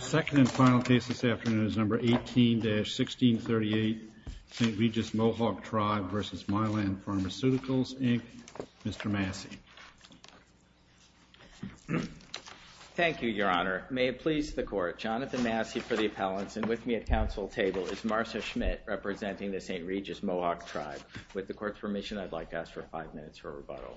Second and final case this afternoon is number 18-1638, St. Regis Mohawk Tribe v. Mylan Pharmaceuticals Inc. Mr. Massey. Thank you, Your Honor. May it please the Court, Jonathan Massey for the appellants, and with me at council table is Marcia Schmidt, representing the St. Regis Mohawk Tribe. With the Court's permission, I'd like to ask for five minutes for rebuttal.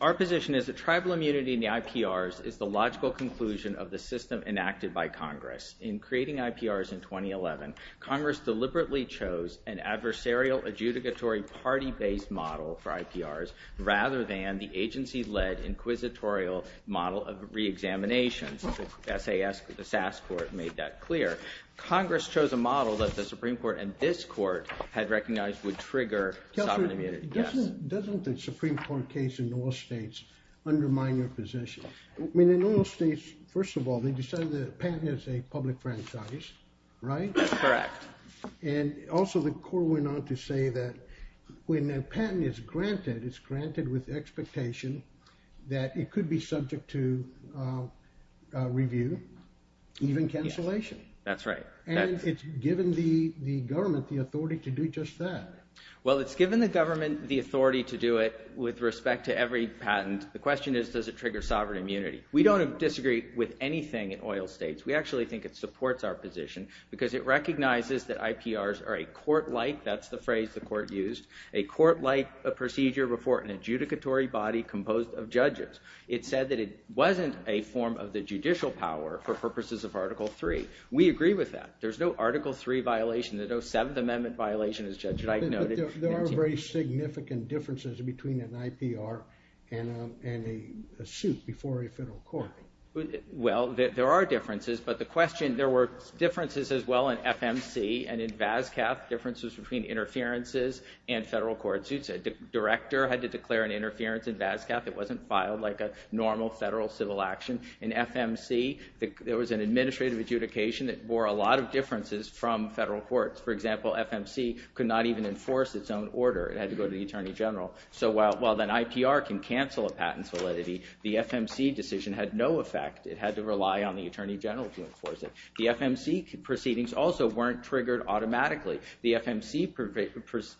Our position is that tribal immunity in the IPRs is the logical conclusion of the system enacted by Congress. In creating IPRs in 2011, Congress deliberately chose an adversarial adjudicatory party-based model for IPRs rather than the agency-led inquisitorial model of reexaminations. The SAS Court made that clear. Congress chose a model that the Supreme Court and this Court had recognized would trigger sovereign immunity. Doesn't the Supreme Court case in all states undermine your position? I mean, in all states, first of all, they decided that a patent is a public franchise, right? Correct. And also the Court went on to say that when a patent is granted, it's granted with the expectation that it could be subject to review, even cancellation. That's right. And it's given the government the authority to do just that. Well, it's given the government the authority to do it with respect to every patent. The question is, does it trigger sovereign immunity? We don't disagree with anything in oil states. We actually think it supports our position because it recognizes that IPRs are a court-like, that's the phrase the Court used, a court-like procedure before an adjudicatory body composed of judges. It said that it wasn't a form of the judicial power for purposes of Article III. We agree with that. There's no Article III violation. There's no Seventh Amendment violation, as Judge Wright noted. But there are very significant differences between an IPR and a suit before a federal court. Well, there are differences, but the question, there were differences as well in FMC and in VASCAP, differences between interferences and federal court suits. A director had to declare an interference in VASCAP. It wasn't filed like a normal federal civil action. In FMC, there was an administrative adjudication that bore a lot of differences from federal courts. For example, FMC could not even enforce its own order. It had to go to the Attorney General. So while an IPR can cancel a patent's validity, the FMC decision had no effect. It had to rely on the Attorney General to enforce it. The FMC proceedings also weren't triggered automatically. The FMC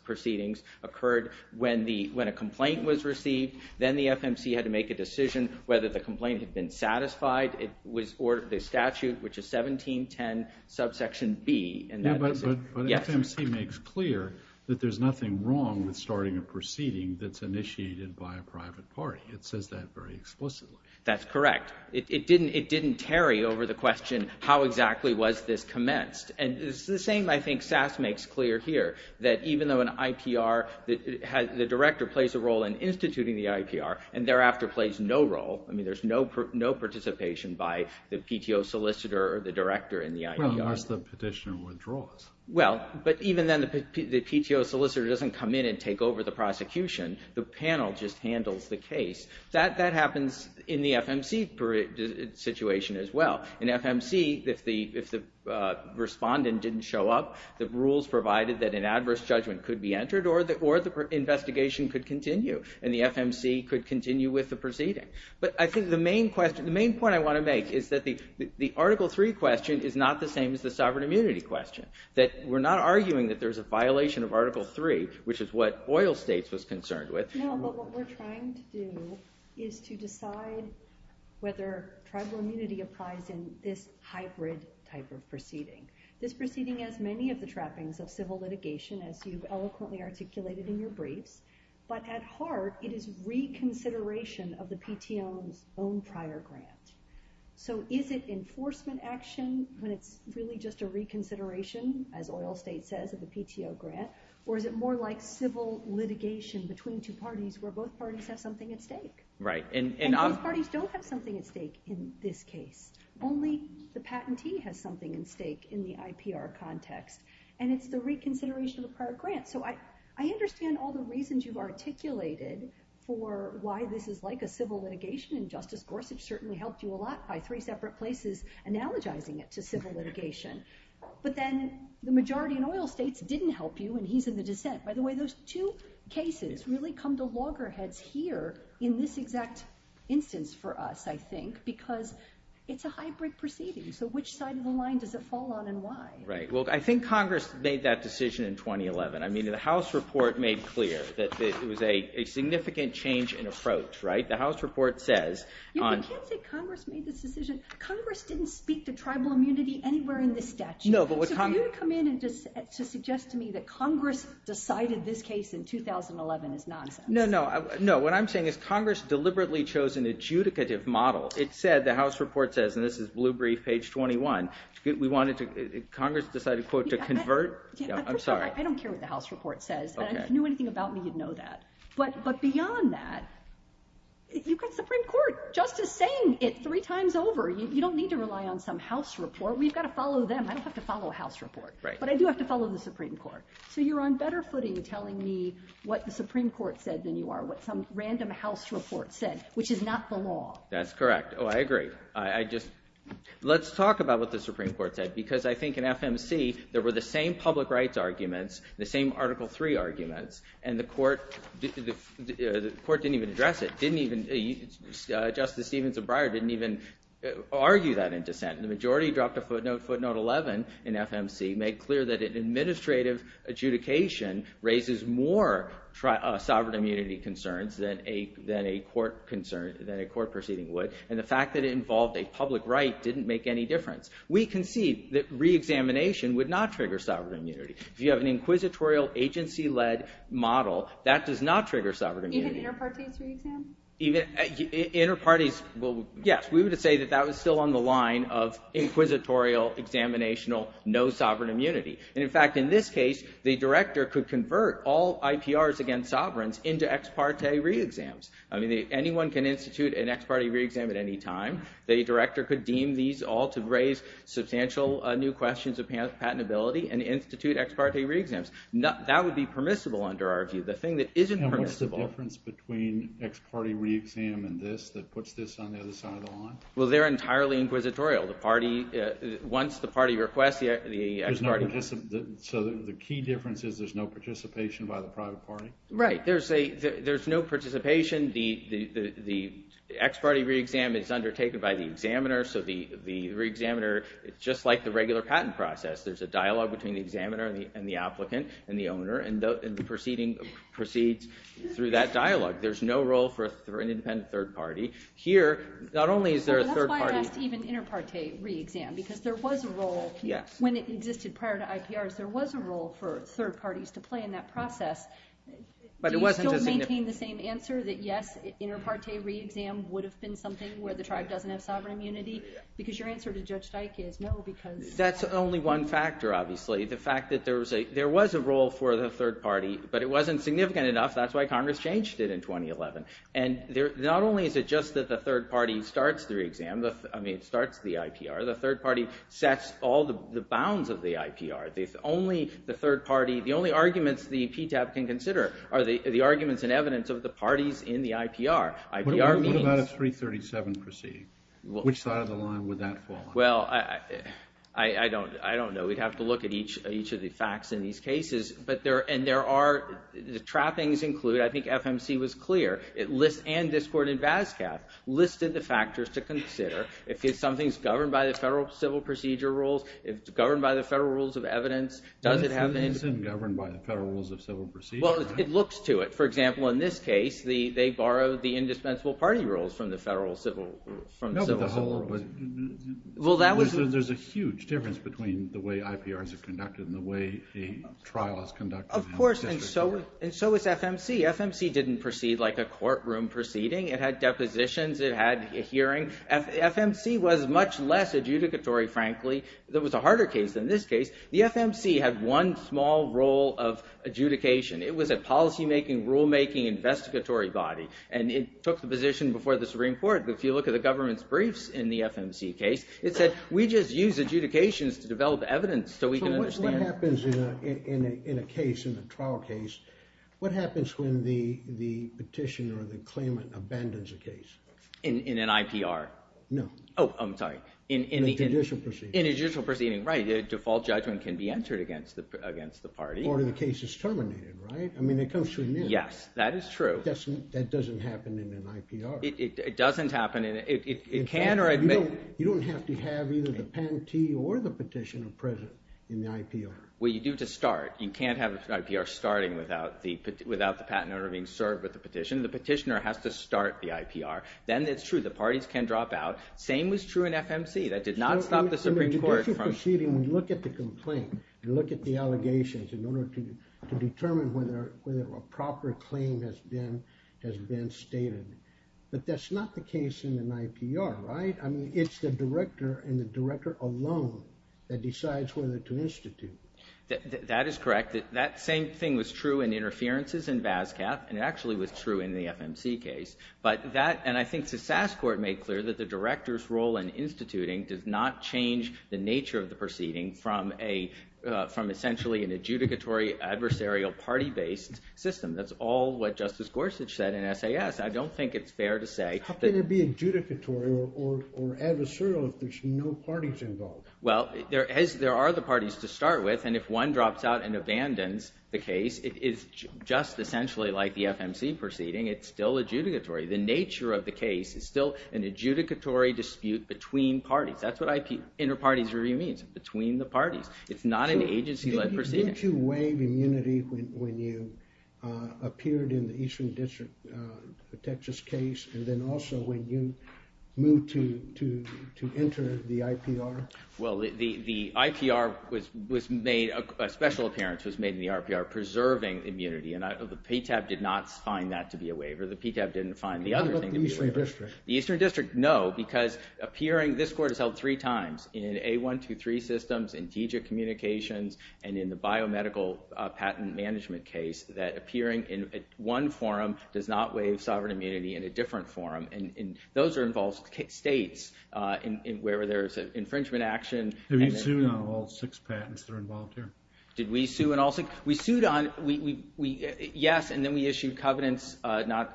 proceedings occurred when a complaint was received. Then the FMC had to make a decision whether the complaint had been satisfied. It was ordered by statute, which is 1710 subsection B. But FMC makes clear that there's nothing wrong with starting a proceeding that's initiated by a private party. It says that very explicitly. That's correct. It didn't tarry over the question, how exactly was this commenced? And it's the same, I think, SAS makes clear here. That even though an IPR, the director plays a role in instituting the IPR, and thereafter plays no role. I mean, there's no participation by the PTO solicitor or the director in the IPR. Well, unless the petitioner withdraws. Well, but even then, the PTO solicitor doesn't come in and take over the prosecution. The panel just handles the case. That happens in the FMC situation as well. In FMC, if the respondent didn't show up, the rules provided that an adverse judgment could be entered, or the investigation could continue. And the FMC could continue with the proceeding. But I think the main point I want to make is that the Article III question is not the same as the sovereign immunity question. That we're not arguing that there's a violation of Article III, which is what oil states was concerned with. No, but what we're trying to do is to decide whether tribal immunity applies in this hybrid type of proceeding. This proceeding has many of the trappings of civil litigation, as you've eloquently articulated in your briefs. But at heart, it is reconsideration of the PTO's own prior grant. So is it enforcement action when it's really just a reconsideration, as oil state says, of the PTO grant? Or is it more like civil litigation between two parties where both parties have something at stake? And both parties don't have something at stake in this case. Only the patentee has something at stake in the IPR context. And it's the reconsideration of a prior grant. So I understand all the reasons you've articulated for why this is like a civil litigation. And Justice Gorsuch certainly helped you a lot by three separate places analogizing it to civil litigation. But then the majority in oil states didn't help you, and he's in the dissent. By the way, those two cases really come to loggerheads here in this exact instance for us, I think, because it's a hybrid proceeding. So which side of the line does it fall on and why? Right. Well, I think Congress made that decision in 2011. I mean, the House report made clear that it was a significant change in approach, right? The House report says on— You can't say Congress made this decision. Congress didn't speak to tribal immunity anywhere in this statute. So for you to come in and to suggest to me that Congress decided this case in 2011 is nonsense. No, no. No. What I'm saying is Congress deliberately chose an adjudicative model. It said, the House report says, and this is Blue Brief, page 21, we wanted to—Congress decided, quote, to convert? I'm sorry. I don't care what the House report says. And if you knew anything about me, you'd know that. But beyond that, you've got Supreme Court justice saying it three times over. You don't need to rely on some House report. We've got to follow them. I don't have to follow a House report. Right. But I do have to follow the Supreme Court. So you're on better footing telling me what the Supreme Court said than you are, what some random House report said, which is not the law. That's correct. Oh, I agree. I just—let's talk about what the Supreme Court said. Because I think in FMC, there were the same public rights arguments, the same Article III arguments, and the court didn't even address it. It didn't even—Justice Stevenson Breyer didn't even argue that in dissent. The majority dropped a footnote, footnote 11, in FMC, made clear that an administrative adjudication raises more sovereign immunity concerns than a court proceeding would, and the fact that it involved a public right didn't make any difference. We concede that reexamination would not trigger sovereign immunity. If you have an inquisitorial, agency-led model, that does not trigger sovereign immunity. Even inter-parties reexam? Inter-parties—well, yes. We would say that that was still on the line of inquisitorial, examinational, no sovereign immunity. And in fact, in this case, the director could convert all IPRs against sovereigns into ex parte reexams. I mean, anyone can institute an ex parte reexam at any time. The director could deem these all to raise substantial new questions of patentability and institute ex parte reexams. That would be permissible under our view. And what's the difference between ex parte reexam and this, that puts this on the other side of the line? Well, they're entirely inquisitorial. Once the party requests, the ex parte— So the key difference is there's no participation by the private party? Right. There's no participation. The ex parte reexam is undertaken by the examiner, so the reexaminer, just like the regular patent process, there's a dialogue between the examiner and the applicant and the owner, and the proceeding proceeds through that dialogue. There's no role for an independent third party. Here, not only is there a third party— That's why I asked even inter parte reexam, because there was a role, when it existed prior to IPRs, there was a role for third parties to play in that process. Do you still maintain the same answer, that yes, inter parte reexam would have been something where the tribe doesn't have sovereign immunity? Because your answer to Judge Dyke is no, because— That's only one factor, obviously. The fact that there was a role for the third party, but it wasn't significant enough, that's why Congress changed it in 2011. And not only is it just that the third party starts the reexam, I mean, starts the IPR, the third party sets all the bounds of the IPR. The only arguments the PTAP can consider are the arguments and evidence of the parties in the IPR. What about a 337 proceeding? Which side of the line would that fall on? Well, I don't know. We'd have to look at each of the facts in these cases. And there are—the trappings include, I think FMC was clear, and Discord and BASCAP, listed the factors to consider. If something's governed by the federal civil procedure rules, if it's governed by the federal rules of evidence, does it have— It isn't governed by the federal rules of civil procedure. Well, it looks to it. For example, in this case, they borrowed the indispensable party rules from the federal civil rules. There's a huge difference between the way IPRs are conducted and the way a trial is conducted in a district court. Of course, and so is FMC. FMC didn't proceed like a courtroom proceeding. It had depositions. It had a hearing. FMC was much less adjudicatory, frankly. It was a harder case than this case. The FMC had one small role of adjudication. It was a policymaking, rulemaking, investigatory body. And it took the position before the Supreme Court, if you look at the government's briefs in the FMC case, it said, we just use adjudications to develop evidence so we can understand— So what happens in a case, in a trial case, what happens when the petitioner or the claimant abandons a case? In an IPR? No. Oh, I'm sorry. In a judicial proceeding. In a judicial proceeding, right. A default judgment can be entered against the party. Or the case is terminated, right? I mean, it comes to an end. Yes, that is true. That doesn't happen in an IPR. It doesn't happen. It can or it may— You don't have to have either the patentee or the petitioner present in the IPR. Well, you do to start. You can't have an IPR starting without the patent owner being served with the petition. The petitioner has to start the IPR. Then it's true. The parties can drop out. Same was true in FMC. That did not stop the Supreme Court from— In a judicial proceeding, we look at the complaint. We look at the allegations in order to determine whether a proper claim has been stated. But that's not the case in an IPR, right? I mean, it's the director and the director alone that decides whether to institute. That is correct. That same thing was true in interferences in VASCAP. And it actually was true in the FMC case. But that—and I think the SAS Court made clear that the director's role in instituting does not change the nature of the proceeding from essentially an adjudicatory adversarial party-based system. That's all what Justice Gorsuch said in SAS. I don't think it's fair to say— How can it be adjudicatory or adversarial if there's no parties involved? Well, there are the parties to start with. And if one drops out and abandons the case, it is just essentially like the FMC proceeding. It's still adjudicatory. The nature of the case is still an adjudicatory dispute between parties. That's what inter-parties review means. Between the parties. It's not an agency-led proceeding. Didn't you waive immunity when you appeared in the Eastern District, a Texas case? And then also when you moved to enter the IPR? Well, the IPR was made—a special appearance was made in the IPR preserving immunity. And the PTAB did not find that to be a waiver. The PTAB didn't find the other thing to be a waiver. What about the Eastern District? The Eastern District, no. Because appearing—this court has held three times in A123 systems, in TGIC communications, and in the biomedical patent management case, that appearing in one forum does not waive sovereign immunity in a different forum. And those are involved states where there's an infringement action. Have you sued on all six patents that are involved here? Did we sue on all six? We sued on—yes, and then we issued covenants not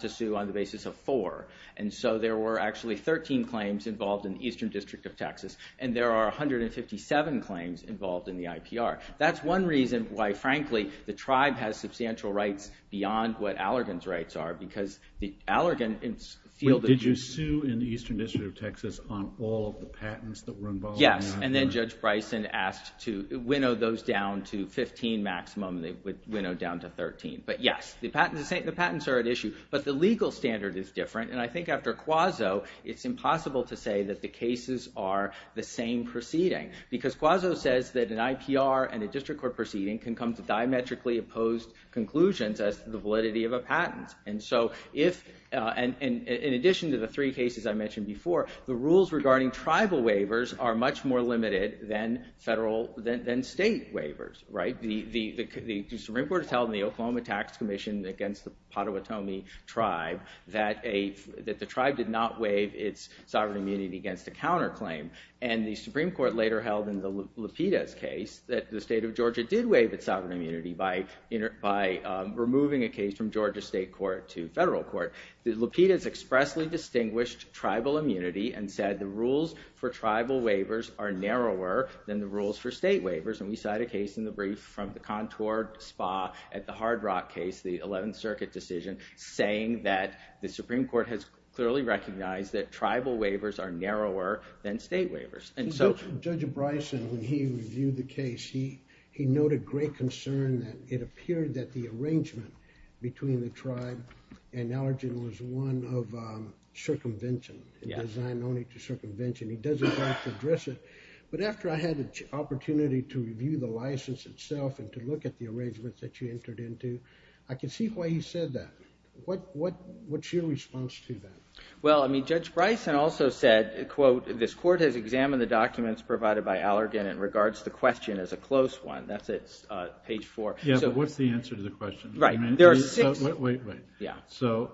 to sue on the basis of four. And so there were actually 13 claims involved in the Eastern District of Texas. And there are 157 claims involved in the IPR. That's one reason why, frankly, the tribe has substantial rights beyond what Allergan's rights are because the Allergan field— Did you sue in the Eastern District of Texas on all of the patents that were involved? Yes, and then Judge Bryson asked to winnow those down to 15 maximum. They would winnow down to 13. But yes, the patents are at issue. But the legal standard is different. And I think after Quazzo, it's impossible to say that the cases are the same proceeding because Quazzo says that an IPR and a district court proceeding can come to diametrically opposed conclusions as to the validity of a patent. And so if—and in addition to the three cases I mentioned before, the rules regarding tribal waivers are much more limited than state waivers. The Supreme Court has held in the Oklahoma Tax Commission against the Potawatomi tribe that the tribe did not waive its sovereign immunity against a counterclaim. And the Supreme Court later held in the Lupita's case that the state of Georgia did waive its sovereign immunity by removing a case from Georgia state court to federal court. The Lupita's expressly distinguished tribal immunity and said the rules for tribal waivers are narrower than the rules for state waivers. And we cite a case in the brief from the Contour Spa at the Hard Rock case, the 11th Circuit decision, saying that the Supreme Court has clearly recognized that tribal waivers are narrower than state waivers. And so Judge Bryson, when he reviewed the case, he noted great concern that it appeared that the arrangement between the tribe and Allergen was one of circumvention, designed only to circumvention. He doesn't have to address it. But after I had the opportunity to review the license itself and to look at the arrangements that you entered into, I can see why he said that. What's your response to that? Well, I mean, Judge Bryson also said, quote, this court has examined the documents provided by Allergen and regards the question as a close one. That's at page 4. Yeah, but what's the answer to the question? Right. Wait, wait, wait. Yeah. So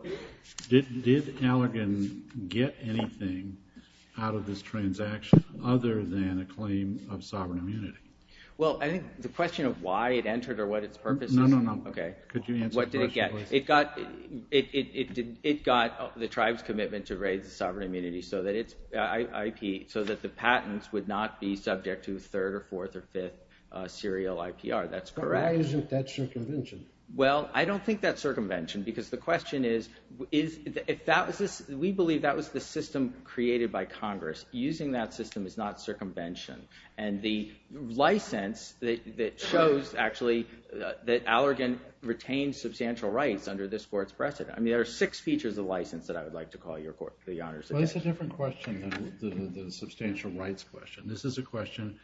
did Allergen get anything out of this transaction other than a claim of sovereign immunity? Well, I think the question of why it entered or what its purpose is is a number. Okay. Could you answer the question, please? What did it get? It got the tribe's commitment to raise the sovereign immunity so that the patents would not be subject to third or fourth or fifth serial IPR. That's correct. But why isn't that circumvention? Well, I don't think that's circumvention because the question is, we believe that was the system created by Congress. Using that system is not circumvention. And the license that shows, actually, that Allergen retained substantial rights under this court's precedent. I mean, there are six features of license that I would like to call your court. Well, that's a different question than the substantial rights question. This is a question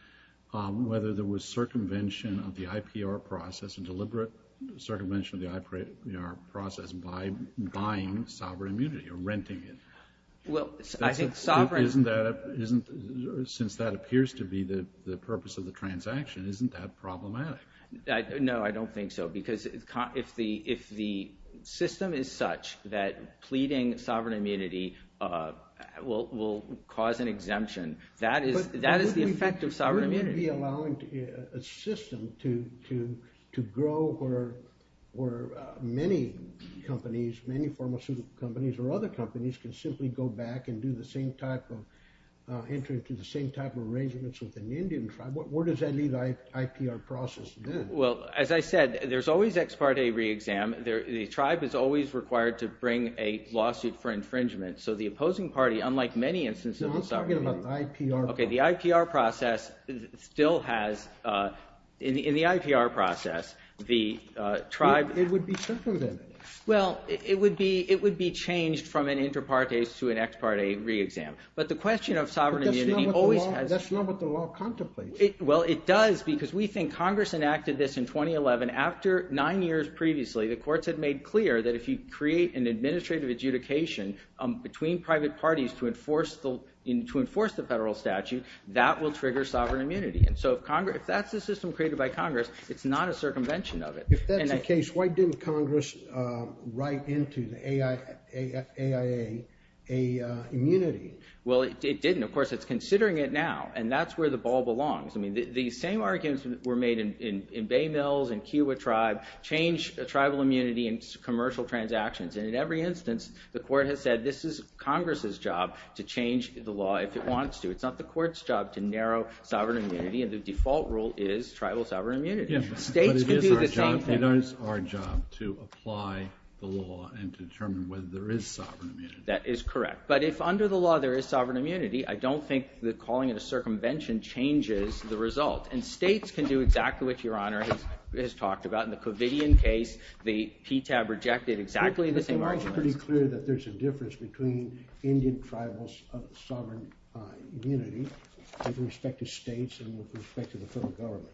whether there was circumvention of the IPR process and deliberate circumvention of the IPR process by buying sovereign immunity or renting it. Since that appears to be the purpose of the transaction, isn't that problematic? No, I don't think so. Because if the system is such that pleading sovereign immunity will cause an exemption, that is the effect of sovereign immunity. But wouldn't we be allowing a system to grow where many companies, many pharmaceutical companies or other companies, can simply go back and do the same type of, enter into the same type of arrangements with an Indian tribe? Where does that leave the IPR process then? Well, as I said, there's always ex parte re-exam. The tribe is always required to bring a lawsuit for infringement. So the opposing party, unlike many instances of sovereign immunity, No, let's talk about the IPR process. Okay, the IPR process still has, in the IPR process, the tribe It would be circumvented. Well, it would be changed from an inter partes to an ex parte re-exam. But the question of sovereign immunity always has But that's not what the law contemplates. Well, it does because we think Congress enacted this in 2011. After nine years previously, the courts had made clear that if you create an administrative adjudication between private parties to enforce the federal statute, that will trigger sovereign immunity. And so if that's the system created by Congress, it's not a circumvention of it. If that's the case, why didn't Congress write into the AIA a immunity? Well, it didn't. Of course, it's considering it now. And that's where the ball belongs. I mean, the same arguments were made in Bay Mills and Kewa Tribe, change tribal immunity and commercial transactions. And in every instance, the court has said, this is Congress's job to change the law if it wants to. It's not the court's job to narrow sovereign immunity. And the default rule is tribal sovereign immunity. States can do the same thing. But it is our job to apply the law and to determine whether there is sovereign immunity. That is correct. But if under the law there is sovereign immunity, I don't think that calling it a circumvention changes the result. And states can do exactly what Your Honor has talked about. In the Covidian case, the PTAB rejected exactly the same arguments. It's pretty clear that there's a difference between Indian tribals of sovereign immunity with respect to states and with respect to the federal government.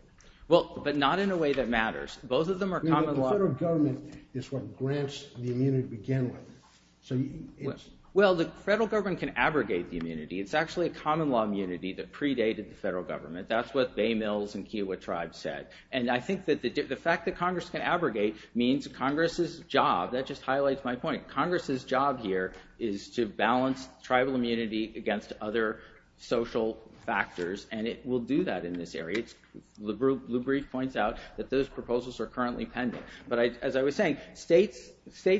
Well, but not in a way that matters. Both of them are common law. The federal government is what grants the immunity to begin with. Well, the federal government can abrogate the immunity. It's actually a common law immunity that predated the federal government. That's what Bay Mills and Kewa Tribe said. And I think that the fact that Congress can abrogate means Congress's job, that just highlights my point, Congress's job here is to balance tribal immunity against other social factors. And it will do that in this area. The Blue Brief points out that those proposals are currently pending. But as I was saying, states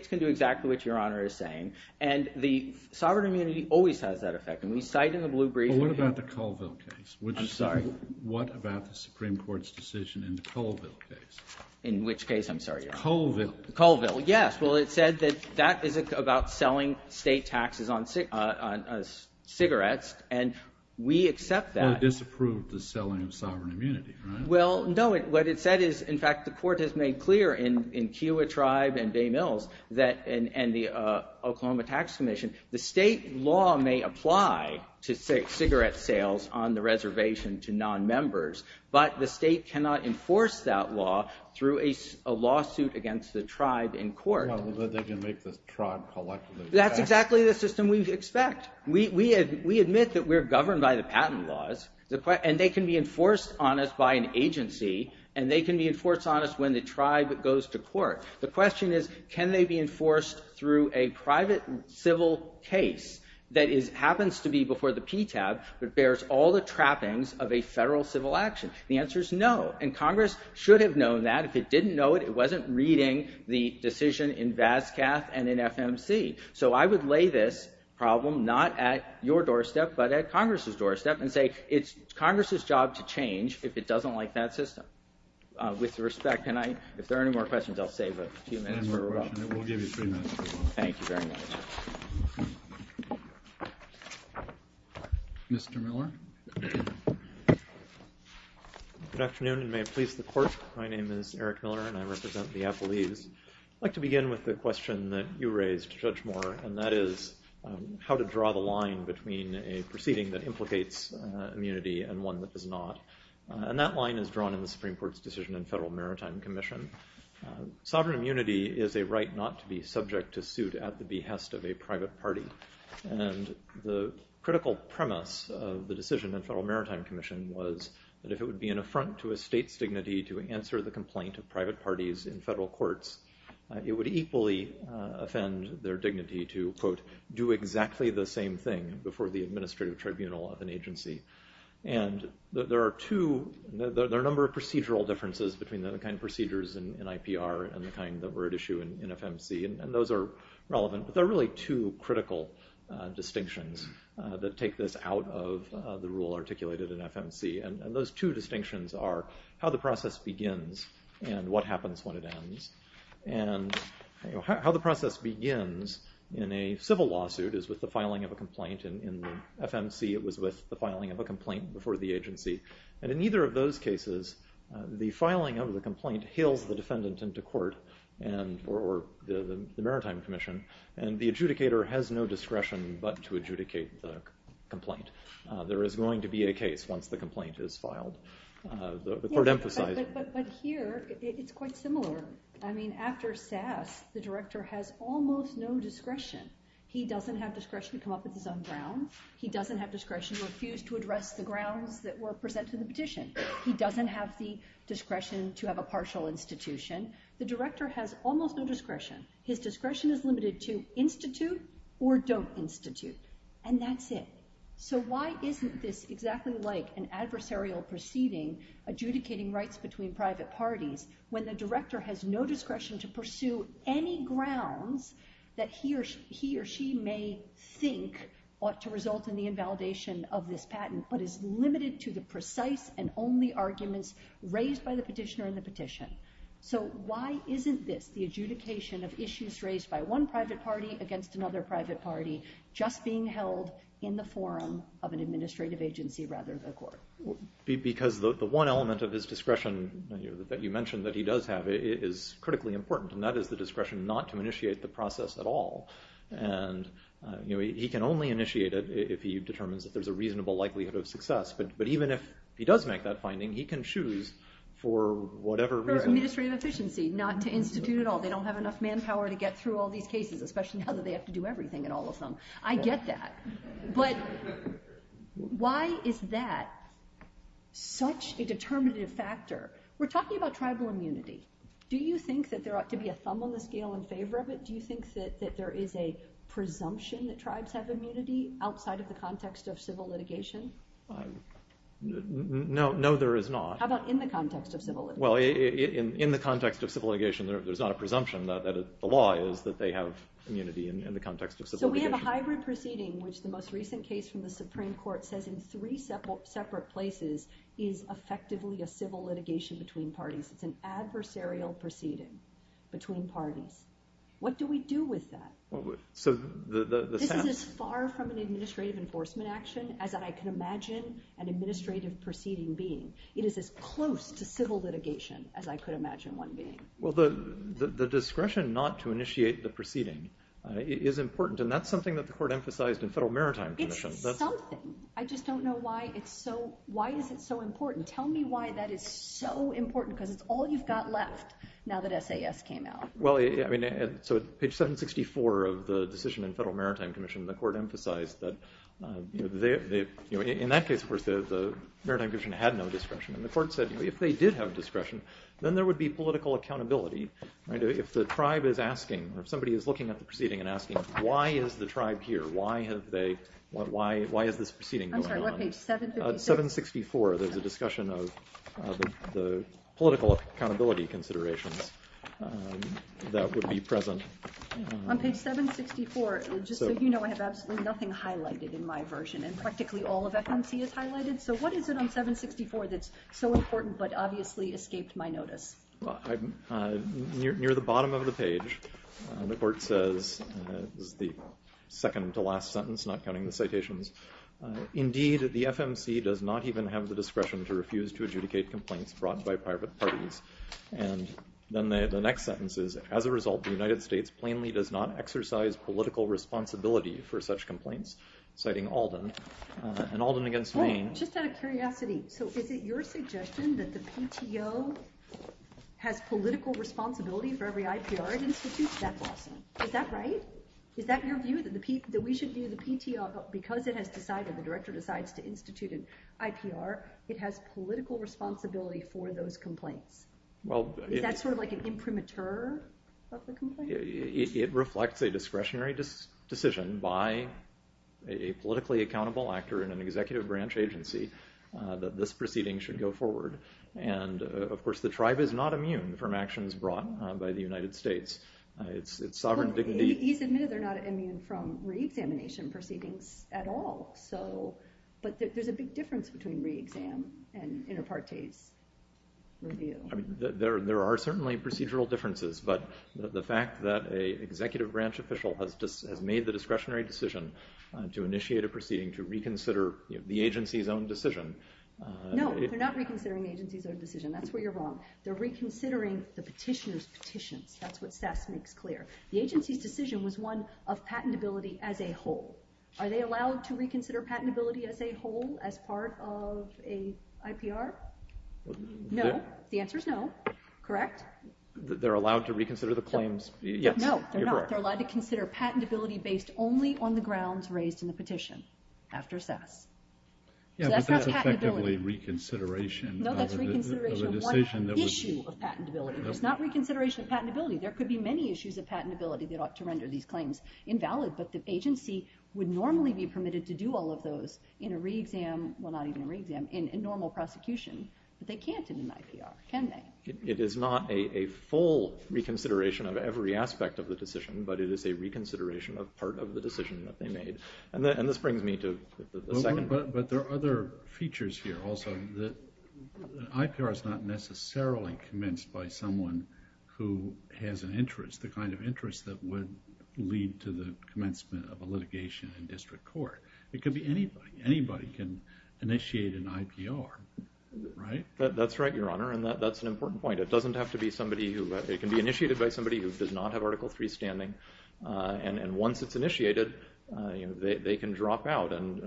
can do exactly what Your Honor is saying. And the sovereign immunity always has that effect. And we cite in the Blue Brief. But what about the Colville case? I'm sorry. What about the Supreme Court's decision in the Colville case? In which case, I'm sorry? Colville. Colville, yes. Well, it said that that isn't about selling state taxes on cigarettes. And we accept that. Well, it disapproved the selling of sovereign immunity, right? Well, no. What it said is, in fact, the court has made clear in Kewa Tribe and Bay Mills and the Oklahoma Tax Commission, the state law may apply to cigarette sales on the reservation to non-members. But the state cannot enforce that law through a lawsuit against the tribe in court. Well, they can make the tribe collect those taxes. That's exactly the system we expect. In fact, we admit that we're governed by the patent laws, and they can be enforced on us by an agency, and they can be enforced on us when the tribe goes to court. The question is, can they be enforced through a private civil case that happens to be before the PTAB but bears all the trappings of a federal civil action? The answer is no. And Congress should have known that. If it didn't know it, it wasn't reading the decision in Vascaff and in FMC. So I would lay this problem not at your doorstep but at Congress's doorstep and say it's Congress's job to change if it doesn't like that system. With respect, if there are any more questions, I'll save a few minutes. We'll give you three minutes. Thank you very much. Mr. Miller. Good afternoon, and may it please the court. My name is Eric Miller, and I represent the Applebees. I'd like to begin with the question that you raised, Judge Moore, and that is how to draw the line between a proceeding that implicates immunity and one that does not, and that line is drawn in the Supreme Court's decision in Federal Maritime Commission. Sovereign immunity is a right not to be subject to suit at the behest of a private party, and the critical premise of the decision in Federal Maritime Commission would be to answer the complaint of private parties in federal courts. It would equally offend their dignity to, quote, do exactly the same thing before the administrative tribunal of an agency, and there are a number of procedural differences between the kind of procedures in IPR and the kind that were at issue in FMC, and those are relevant, but there are really two critical distinctions that take this out of the rule articulated in FMC, and those two distinctions are how the process begins and what happens when it ends, and how the process begins in a civil lawsuit is with the filing of a complaint. In FMC it was with the filing of a complaint before the agency, and in neither of those cases the filing of the complaint hails the defendant into court or the Maritime Commission, and the adjudicator has no discretion but to adjudicate the complaint. There is going to be a case once the complaint is filed. But here it's quite similar. I mean, after SAS the director has almost no discretion. He doesn't have discretion to come up with his own grounds. He doesn't have discretion to refuse to address the grounds that were presented in the petition. He doesn't have the discretion to have a partial institution. The director has almost no discretion. His discretion is limited to institute or don't institute, and that's it. So why isn't this exactly like an adversarial proceeding adjudicating rights between private parties when the director has no discretion to pursue any grounds that he or she may think ought to result in the invalidation of this patent but is limited to the precise and only arguments raised by the petitioner in the petition? So why isn't this the adjudication of issues raised by one private party against another private party just being held in the forum of an administrative agency rather than a court? Because the one element of his discretion that you mentioned that he does have is critically important, and that is the discretion not to initiate the process at all. And he can only initiate it if he determines that there's a reasonable likelihood of success. But even if he does make that finding, he can choose for whatever reason. For administrative efficiency, not to institute at all. They don't have enough manpower to get through all these cases, especially now that they have to do everything in all of them. I get that. But why is that such a determinative factor? We're talking about tribal immunity. Do you think that there ought to be a thumb on the scale in favor of it? Do you think that there is a presumption that tribes have immunity outside of the context of civil litigation? No, there is not. How about in the context of civil litigation? Well, in the context of civil litigation, there's not a presumption that the law is that they have immunity in the context of civil litigation. So we have a hybrid proceeding, which the most recent case from the Supreme Court says in three separate places is effectively a civil litigation between parties. It's an adversarial proceeding between parties. What do we do with that? This is as far from an administrative enforcement action as I can imagine an administrative proceeding being. It is as close to civil litigation as I could imagine one being. Well, the discretion not to initiate the proceeding is important, and that's something that the Court emphasized in Federal Maritime Commission. It's something. I just don't know why it's so important. Tell me why that is so important because it's all you've got left now that SAS came out. Well, I mean, so at page 764 of the decision in Federal Maritime Commission, the Court emphasized that in that case, of course, the Maritime Commission had no discretion. And the Court said if they did have discretion, then there would be political accountability. If the tribe is asking or somebody is looking at the proceeding and asking why is the tribe here, why is this proceeding going on? I'm sorry, what page? 736? 764. There's a discussion of the political accountability considerations that would be present. On page 764, just so you know, I have absolutely nothing highlighted in my version, and practically all of FMC is highlighted. So what is it on 764 that's so important but obviously escaped my notice? Near the bottom of the page, the Court says, this is the second to last sentence, not counting the citations, indeed, the FMC does not even have the discretion to refuse to adjudicate complaints brought by private parties. And then the next sentence is, as a result, the United States plainly does not exercise political responsibility for such complaints, citing Alden. And Alden against Maine. Just out of curiosity, so is it your suggestion that the PTO has political responsibility for every IPR it institutes? That's awesome. Is that right? Is that your view, that we should view the PTO because it has decided, the Director decides to institute an IPR, it has political responsibility for those complaints? Is that sort of like an imprimatur of the complaint? It reflects a discretionary decision by a politically accountable actor in an executive branch agency that this proceeding should go forward. And of course, the tribe is not immune from actions brought by the United States. It's sovereign dignity. He's admitted they're not immune from re-examination proceedings at all. But there's a big difference between re-exam and inter partes review. There are certainly procedural differences, but the fact that an executive branch official has made the discretionary decision to initiate a proceeding to reconsider the agency's own decision. No, they're not reconsidering the agency's own decision. That's where you're wrong. They're reconsidering the petitioner's petitions. That's what SES makes clear. The agency's decision was one of patentability as a whole. Are they allowed to reconsider patentability as a whole, as part of an IPR? No. The answer is no. Correct? They're allowed to reconsider the claims? Yes, you're correct. No, they're not. They're allowed to consider patentability based only on the grounds raised in the petition after SES. So that's not patentability. Yeah, but that's effectively reconsideration of a decision. No, that's reconsideration of one issue of patentability. It's not reconsideration of patentability. There could be many issues of patentability that ought to render these claims invalid, but the agency would normally be permitted to do all of those in a re-exam, well, not even a re-exam, in a normal prosecution. But they can't in an IPR, can they? It is not a full reconsideration of every aspect of the decision, but it is a reconsideration of part of the decision that they made. And this brings me to the second point. But there are other features here also. IPR is not necessarily commenced by someone who has an interest, the kind of interest that would lead to the commencement of a litigation in district court. It could be anybody. Anybody can initiate an IPR, right? That's right, Your Honor, and that's an important point. It can be initiated by somebody who does not have Article III standing. And once it's initiated, they can drop out. And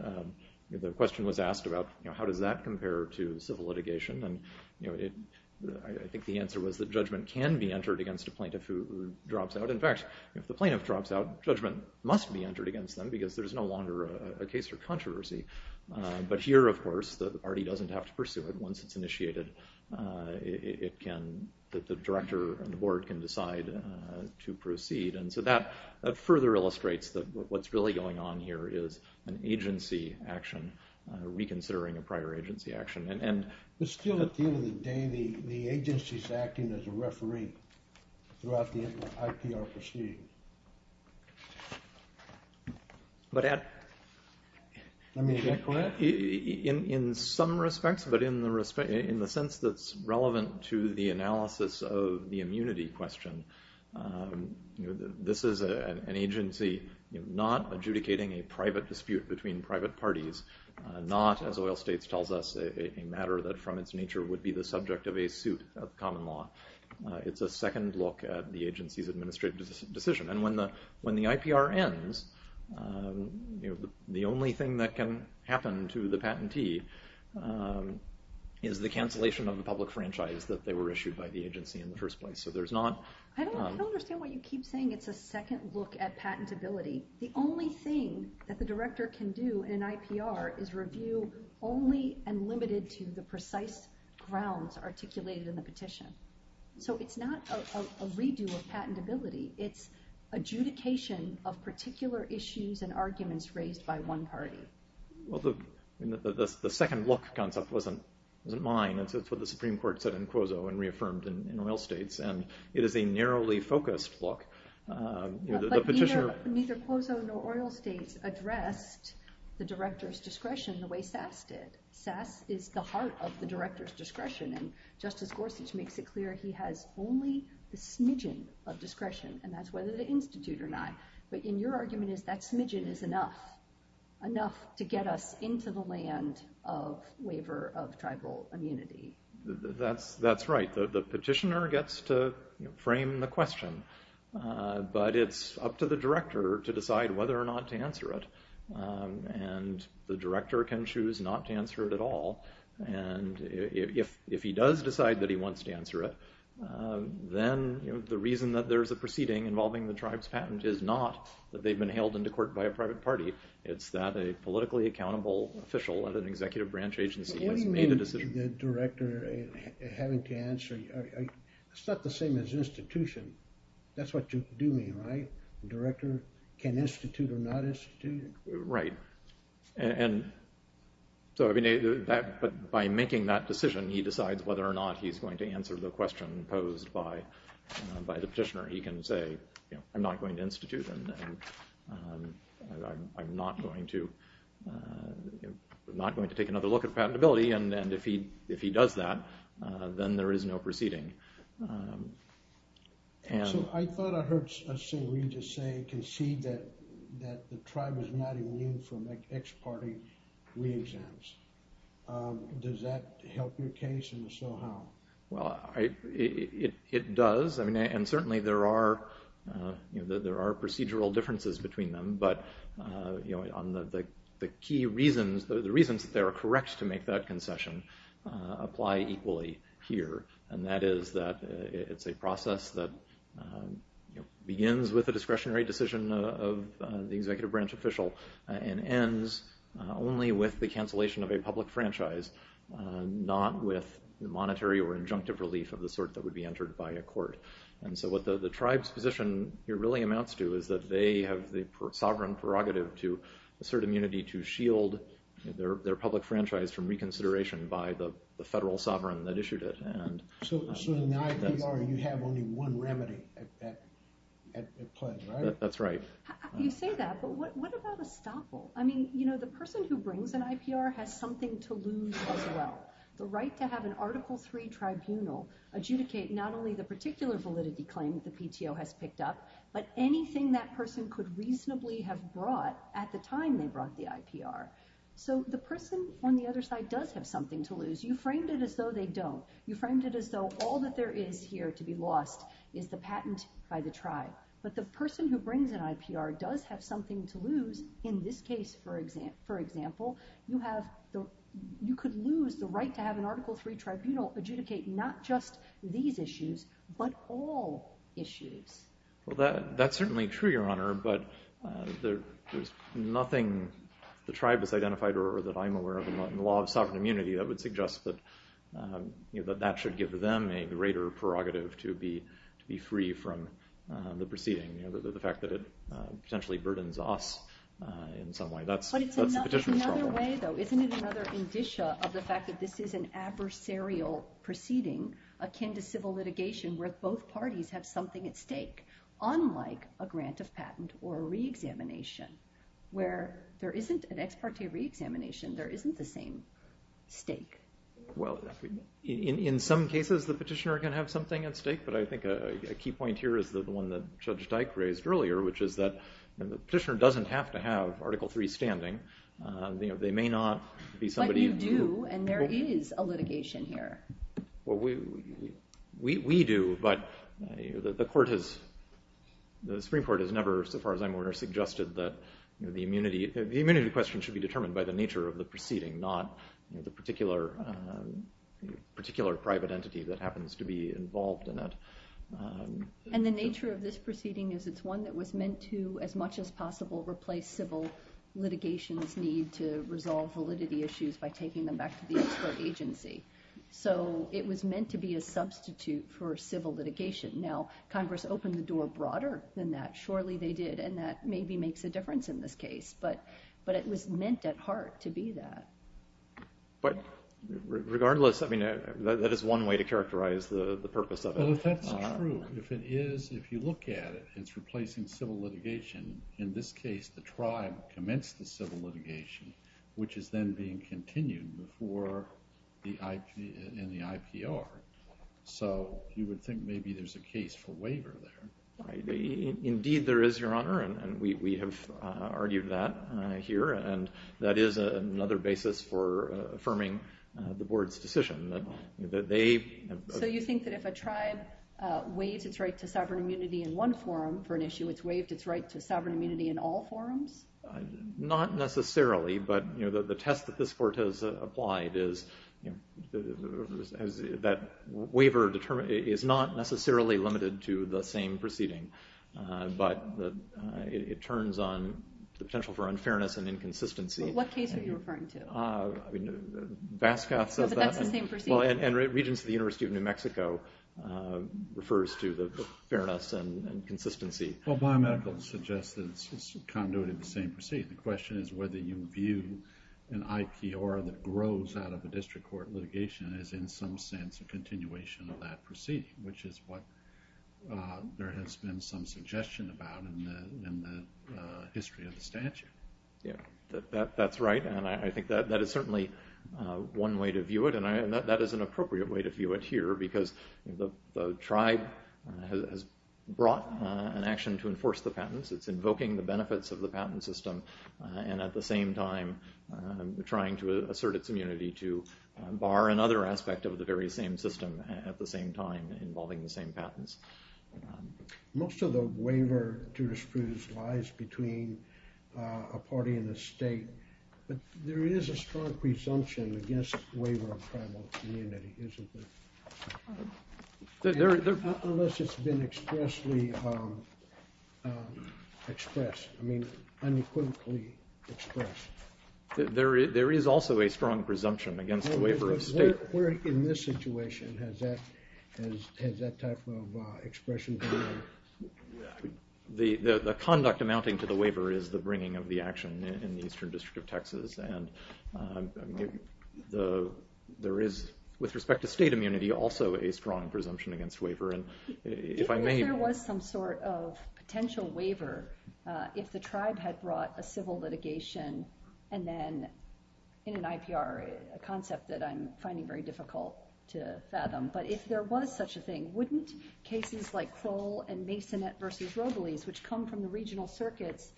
the question was asked about how does that compare to civil litigation. And I think the answer was that judgment can be entered against a plaintiff who drops out. In fact, if the plaintiff drops out, judgment must be entered against them because there's no longer a case for controversy. But here, of course, the party doesn't have to pursue it. Once it's initiated, the director and the board can decide to proceed. And so that further illustrates that what's really going on here is an agency action, reconsidering a prior agency action. But still, at the end of the day, the agency is acting as a referee throughout the IPR proceeding. Let me get to that. In some respects, but in the sense that's relevant to the analysis of the immunity question, this is an agency not adjudicating a private dispute between private parties, not, as Oil States tells us, a matter that from its nature would be the subject of a suit of common law. It's a second look at the agency's administrative decision. And when the IPR ends, the only thing that can happen to the patentee is the cancellation of the public franchise that they were issued by the agency in the first place. So there's not... I don't understand what you keep saying. It's a second look at patentability. The only thing that the director can do in an IPR is review only and limited to the precise grounds articulated in the petition. So it's not a redo of patentability. It's adjudication of particular issues and arguments raised by one party. Well, the second look concept wasn't mine. It's what the Supreme Court said in Quozo and reaffirmed in Oil States. And it is a narrowly focused look. But neither Quozo nor Oil States addressed the director's discretion the way SAS did. SAS is the heart of the director's discretion. And Justice Gorsuch makes it clear he has only the smidgen of discretion. And that's whether the Institute or not. But your argument is that smidgen is enough. Enough to get us into the land of waiver of tribal immunity. That's right. The petitioner gets to frame the question. But it's up to the director to decide whether or not to answer it. And the director can choose not to answer it at all. And if he does decide that he wants to answer it, then the reason that there's a proceeding involving the tribe's patent is not that they've been hailed into court by a private party. It's that a politically accountable official at an executive branch agency has made a decision. The director having to answer, it's not the same as institution. That's what you do mean, right? The director can institute or not institute? Right. And so by making that decision, he decides whether or not he's going to answer the question posed by the petitioner. He can say, you know, I'm not going to institute. And I'm not going to take another look at patentability. And if he does that, then there is no proceeding. So I thought I heard St. Regis say, concede that the tribe is not immune from ex parte re-exams. Does that help your case? And if so, how? Well, it does. And certainly there are procedural differences between them. But on the key reasons, the reasons that they are correct to make that concession apply equally here. And that is that it's a process that begins with a discretionary decision of the executive branch official and ends only with the cancellation of a public franchise, not with monetary or injunctive relief of the sort that would be entered by a court. And so what the tribe's position here really amounts to is that they have the sovereign prerogative to assert immunity to shield their public franchise from reconsideration by the federal sovereign that issued it. So in the IPR, you have only one remedy at play, right? That's right. You say that, but what about estoppel? I mean, you know, the person who brings an IPR has something to lose as well. The right to have an Article III tribunal adjudicate not only the particular validity claim that the PTO has picked up, but anything that person could reasonably have brought at the time they brought the IPR. So the person on the other side does have something to lose. You framed it as though they don't. You framed it as though all that there is here to be lost is the patent by the tribe. But the person who brings an IPR does have something to lose. In this case, for example, you could lose the right to have an Article III tribunal adjudicate not just these issues, but all issues. Well, that's certainly true, Your Honor. But there's nothing the tribe has identified or that I'm aware of in the law of sovereign immunity that would suggest that that should give them a greater prerogative to be free from the proceeding, the fact that it potentially burdens us in some way. But it's another way, though. Isn't it another indicia of the fact that this is an adversarial proceeding akin to civil litigation where both parties have something at stake, unlike a grant of patent or a reexamination, where there isn't an ex parte reexamination, there isn't the same stake? Well, in some cases the petitioner can have something at stake, but I think a key point here is the one that Judge Dyke raised earlier, which is that the petitioner doesn't have to have Article III standing. They may not be somebody who do. But you do, and there is a litigation here. Well, we do, but the Supreme Court has never, so far as I'm aware, suggested that the immunity question should be determined by the nature of the proceeding, not the particular private entity that happens to be involved in it. And the nature of this proceeding is it's one that was meant to, as much as possible, replace civil litigation's need to resolve validity issues by taking them back to the ex parte agency. So it was meant to be a substitute for civil litigation. Now, Congress opened the door broader than that. Surely they did, and that maybe makes a difference in this case. But it was meant at heart to be that. But regardless, I mean, that is one way to characterize the purpose of it. Well, if that's true, if it is, if you look at it, it's replacing civil litigation. In this case, the tribe commenced the civil litigation, which is then being continued in the IPR. So you would think maybe there's a case for waiver there. Indeed there is, Your Honor, and we have argued that here. And that is another basis for affirming the board's decision. So you think that if a tribe waives its right to sovereign immunity in one forum for an issue, it's waived its right to sovereign immunity in all forums? Not necessarily. But the test that this court has applied is that waiver is not necessarily limited to the same proceeding. But it turns on the potential for unfairness and inconsistency. Well, what case are you referring to? Vascoff says that. But that's the same proceeding. Well, and Regents of the University of New Mexico refers to the fairness and consistency. Well, biomedical suggests that it's conduited the same proceeding. The question is whether you view an IPR that grows out of a district court litigation as in some sense a continuation of that proceeding, which is what there has been some suggestion about in the history of the statute. Yeah, that's right. And I think that is certainly one way to view it. And that is an appropriate way to view it here because the tribe has brought an action to enforce the patents. It's invoking the benefits of the patent system and at the same time trying to assert its immunity to bar another aspect of the very same system at the same time involving the same patents. Most of the waiver jurisprudence lies between a party and the state. But there is a strong presumption against waiver of tribal immunity, isn't there? Unless it's been expressly expressed. I mean, unequivocally expressed. There is also a strong presumption against waiver of state. Where in this situation has that type of expression been? The conduct amounting to the waiver is the bringing of the action in the Eastern District of Texas. And there is, with respect to state immunity, also a strong presumption against waiver. If there was some sort of potential waiver, if the tribe had brought a civil litigation, and then in an IPR, a concept that I'm finding very difficult to fathom, but if there was such a thing, wouldn't cases like Kroll and Masonet v. Robles, which come from the regional circuits,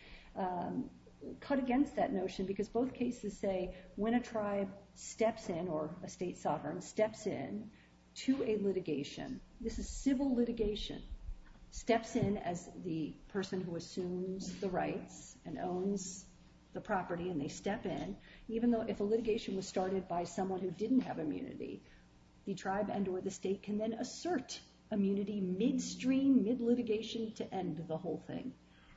cut against that notion? Because both cases say when a tribe steps in or a state sovereign steps in to a litigation, this is civil litigation, steps in as the person who assumes the rights and owns the property, and they step in, even though if a litigation was started by someone who didn't have immunity, the tribe and or the state can then assert immunity midstream, mid-litigation, to end the whole thing.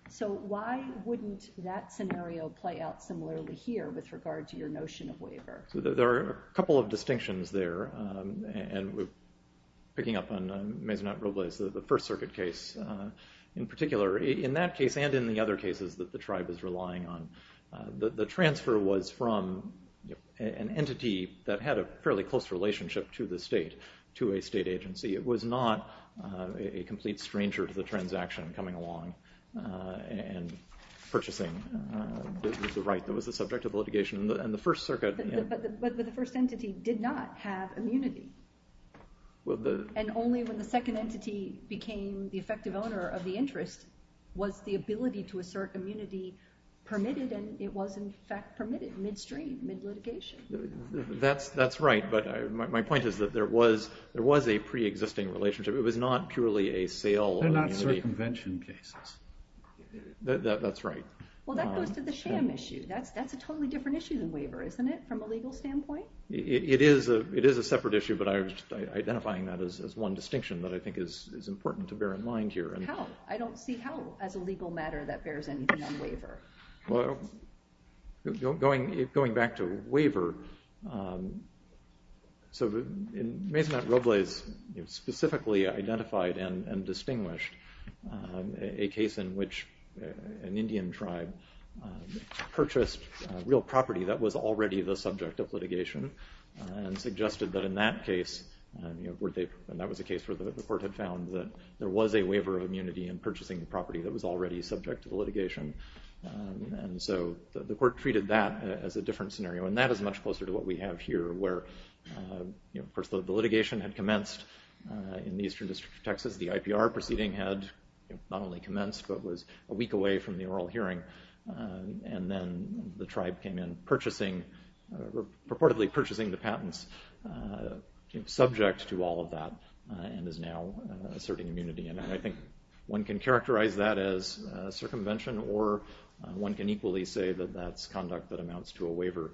So why wouldn't that scenario play out similarly here with regard to your notion of waiver? There are a couple of distinctions there, and picking up on Masonet v. Robles, the First Circuit case in particular, in that case and in the other cases that the tribe is relying on, the transfer was from an entity that had a fairly close relationship to the state, to a state agency. It was not a complete stranger to the transaction coming along and purchasing the right that was the subject of litigation. But the first entity did not have immunity. And only when the second entity became the effective owner of the interest was the ability to assert immunity permitted, and it was in fact permitted midstream, mid-litigation. That's right, but my point is that there was a pre-existing relationship. It was not purely a sale of immunity. They're not circumvention cases. That's right. Well, that goes to the sham issue. That's a totally different issue than waiver, isn't it, from a legal standpoint? It is a separate issue, but I was identifying that as one distinction that I think is important to bear in mind here. How? I don't see how, as a legal matter, that bears anything on waiver. Well, going back to waiver, so Maisonette Robles specifically identified and distinguished a case in which an Indian tribe purchased real property that was already the subject of litigation and suggested that in that case, and that was a case where the court had found that there was a waiver of immunity in purchasing the property that was already subject to litigation. And so the court treated that as a different scenario, and that is much closer to what we have here, where the litigation had commenced in the eastern district of Texas. The IPR proceeding had not only commenced but was a week away from the oral hearing, and then the tribe came in purportedly purchasing the patents subject to all of that and is now asserting immunity. And I think one can characterize that as circumvention, or one can equally say that that's conduct that amounts to a waiver.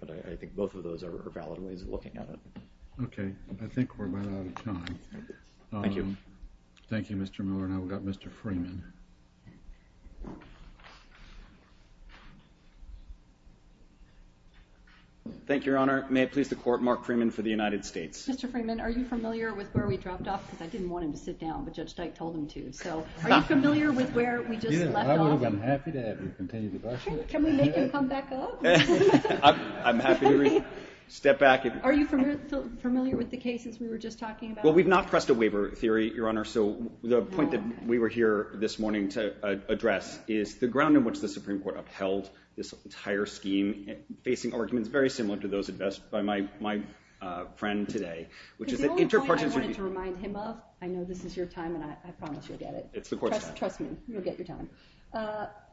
But I think both of those are valid ways of looking at it. Okay. I think we're about out of time. Thank you. Thank you, Mr. Miller. Now we've got Mr. Freeman. Thank you, Your Honor. May it please the Court, Mark Freeman for the United States. Mr. Freeman, are you familiar with where we dropped off? Because I didn't want him to sit down, but Judge Dyke told him to. So are you familiar with where we just left off? Yeah, I'm happy to have you continue the question. Can we make him come back up? I'm happy to step back. Are you familiar with the cases we were just talking about? Well, we've not pressed a waiver theory, Your Honor. So the point that we were here this morning to address is the ground in which the Supreme Court upheld this entire scheme, facing arguments very similar to those addressed by my friend today. Because the only point I wanted to remind him of, I know this is your time and I promise you'll get it. It's the Court's time. Trust me. You'll get your time.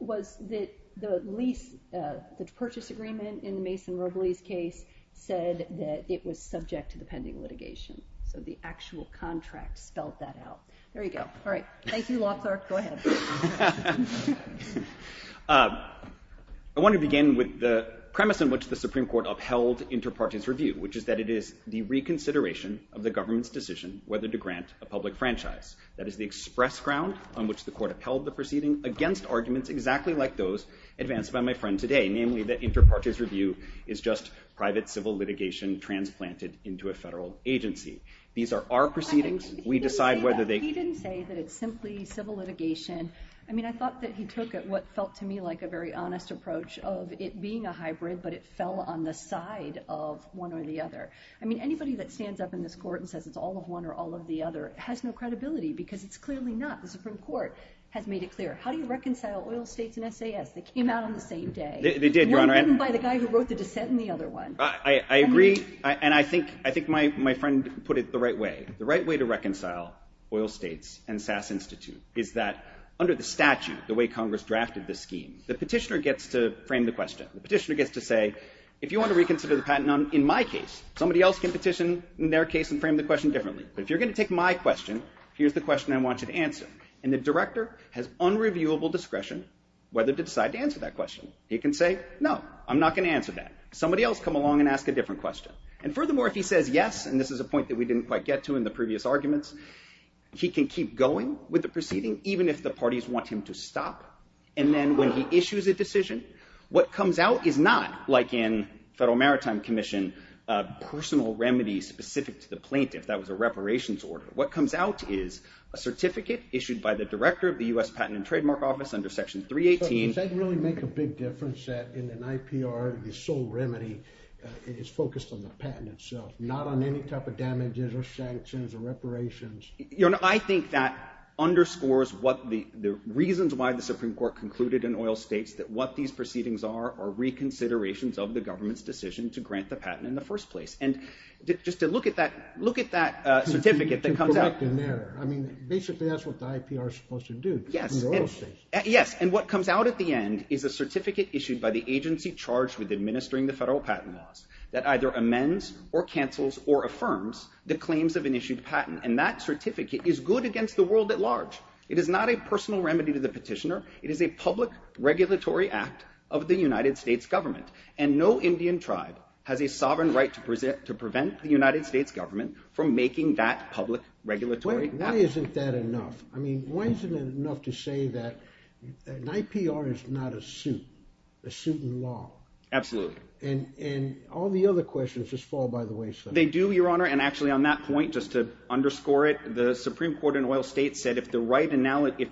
Was that the lease, the purchase agreement in the Mason-Robles case said that it was subject to the pending litigation. So the actual contract spelled that out. There you go. All right. Thank you, law clerk. Go ahead. I want to begin with the premise in which the Supreme Court upheld inter partes review, which is that it is the reconsideration of the government's decision whether to grant a public franchise. That is the express ground on which the Court upheld the proceeding against arguments exactly like those advanced by my friend today, namely that inter partes review is just private civil litigation transplanted into a federal agency. These are our proceedings. He didn't say that it's simply civil litigation. I mean, I thought that he took what felt to me like a very honest approach of it being a hybrid, but it fell on the side of one or the other. I mean, anybody that stands up in this court and says it's all of one or all of the other has no credibility because it's clearly not. The Supreme Court has made it clear. How do you reconcile oil states and SAS? They came out on the same day. They did, Your Honor. Not written by the guy who wrote the dissent in the other one. I agree. And I think my friend put it the right way. The right way to reconcile oil states and SAS Institute is that under the statute, the way Congress drafted the scheme, the petitioner gets to frame the question. The petitioner gets to say, if you want to reconsider the patent in my case, somebody else can petition in their case and frame the question differently. But if you're going to take my question, here's the question I want you to answer. And the director has unreviewable discretion whether to decide to answer that question. He can say, no, I'm not going to answer that. Somebody else come along and ask a different question. And furthermore, if he says yes, and this is a point that we didn't quite get to in the previous arguments, he can keep going with the proceeding, even if the parties want him to stop. And then when he issues a decision, what comes out is not like in Federal Maritime Commission, personal remedies specific to the plaintiff. That was a reparations order. What comes out is a certificate issued by the director of the U.S. Patent and Trademark Office under Section 318. Does that really make a big difference that in an IPR, the sole remedy is focused on the patent itself, not on any type of damages or sanctions or reparations? I think that underscores what the reasons why the Supreme Court concluded in oil states that what these proceedings are are reconsiderations of the government's decision to grant the patent in the first place. And just to look at that certificate that comes out. I mean, basically that's what the IPR is supposed to do. Yes, and what comes out at the end is a certificate issued by the agency charged with administering the federal patent laws that either amends or cancels or affirms the claims of an issued patent. And that certificate is good against the world at large. It is not a personal remedy to the petitioner. It is a public regulatory act of the United States government. And no Indian tribe has a sovereign right to prevent the United States government from making that public regulatory act. Why isn't that enough? I mean, why isn't it enough to say that an IPR is not a suit, a suit in law? Absolutely. And all the other questions just fall by the wayside. They do, Your Honor, and actually on that point, just to underscore it, the Supreme Court in oil states said if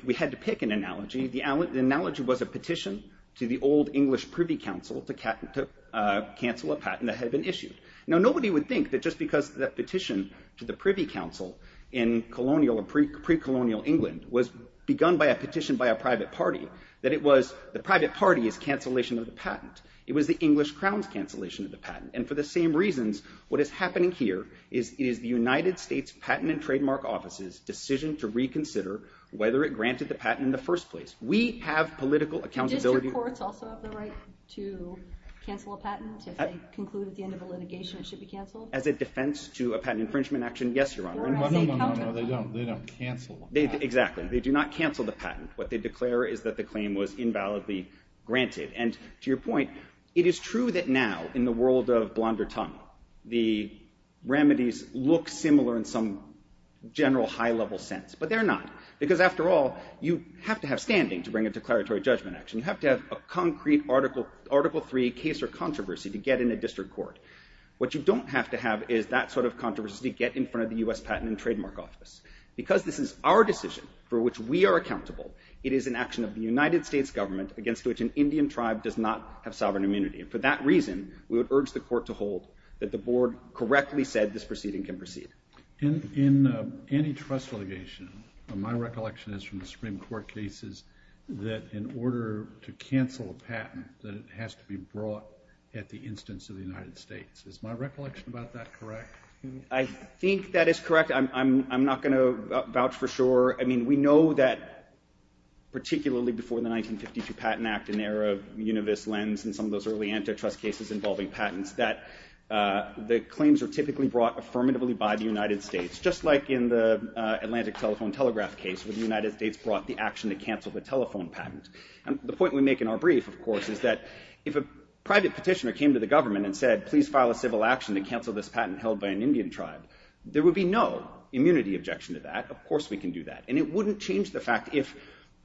we had to pick an analogy, the analogy was a petition to the old English Privy Council to cancel a patent that had been issued. Now, nobody would think that just because the petition to the Privy Council in colonial or pre-colonial England was begun by a petition by a private party that it was the private party's cancellation of the patent. It was the English Crown's cancellation of the patent. And for the same reasons, what is happening here is the United States Patent and Trademark Office's decision to reconsider whether it granted the patent in the first place. We have political accountability. Do district courts also have the right to cancel a patent? If they conclude at the end of a litigation it should be canceled? As a defense to a patent infringement action, yes, Your Honor. No, no, no, no, no. They don't cancel the patent. Exactly. They do not cancel the patent. What they declare is that the claim was invalidly granted. And to your point, it is true that now in the world of blonder tongue, the remedies look similar in some general high-level sense, but they're not. Because after all, you have to have standing to bring a declaratory judgment action. You have to have a concrete Article III case or controversy to get in a district court. What you don't have to have is that sort of controversy to get in front of the U.S. Patent and Trademark Office. Because this is our decision for which we are accountable, it is an action of the United States government against which an Indian tribe does not have sovereign immunity. And for that reason, we would urge the Court to hold that the Board correctly said this proceeding can proceed. In antitrust litigation, my recollection is from the Supreme Court cases that in order to cancel a patent, that it has to be brought at the instance of the United States. Is my recollection about that correct? I think that is correct. I'm not going to vouch for sure. I mean, we know that particularly before the 1952 Patent Act, in the era of Univis Lenz and some of those early antitrust cases involving patents, that the claims are typically brought affirmatively by the United States, just like in the Atlantic Telephone Telegraph case where the United States brought the action to cancel the telephone patent. And the point we make in our brief, of course, is that if a private petitioner came to the government and said, please file a civil action to cancel this patent held by an Indian tribe, there would be no immunity objection to that. Of course we can do that. And it wouldn't change the fact if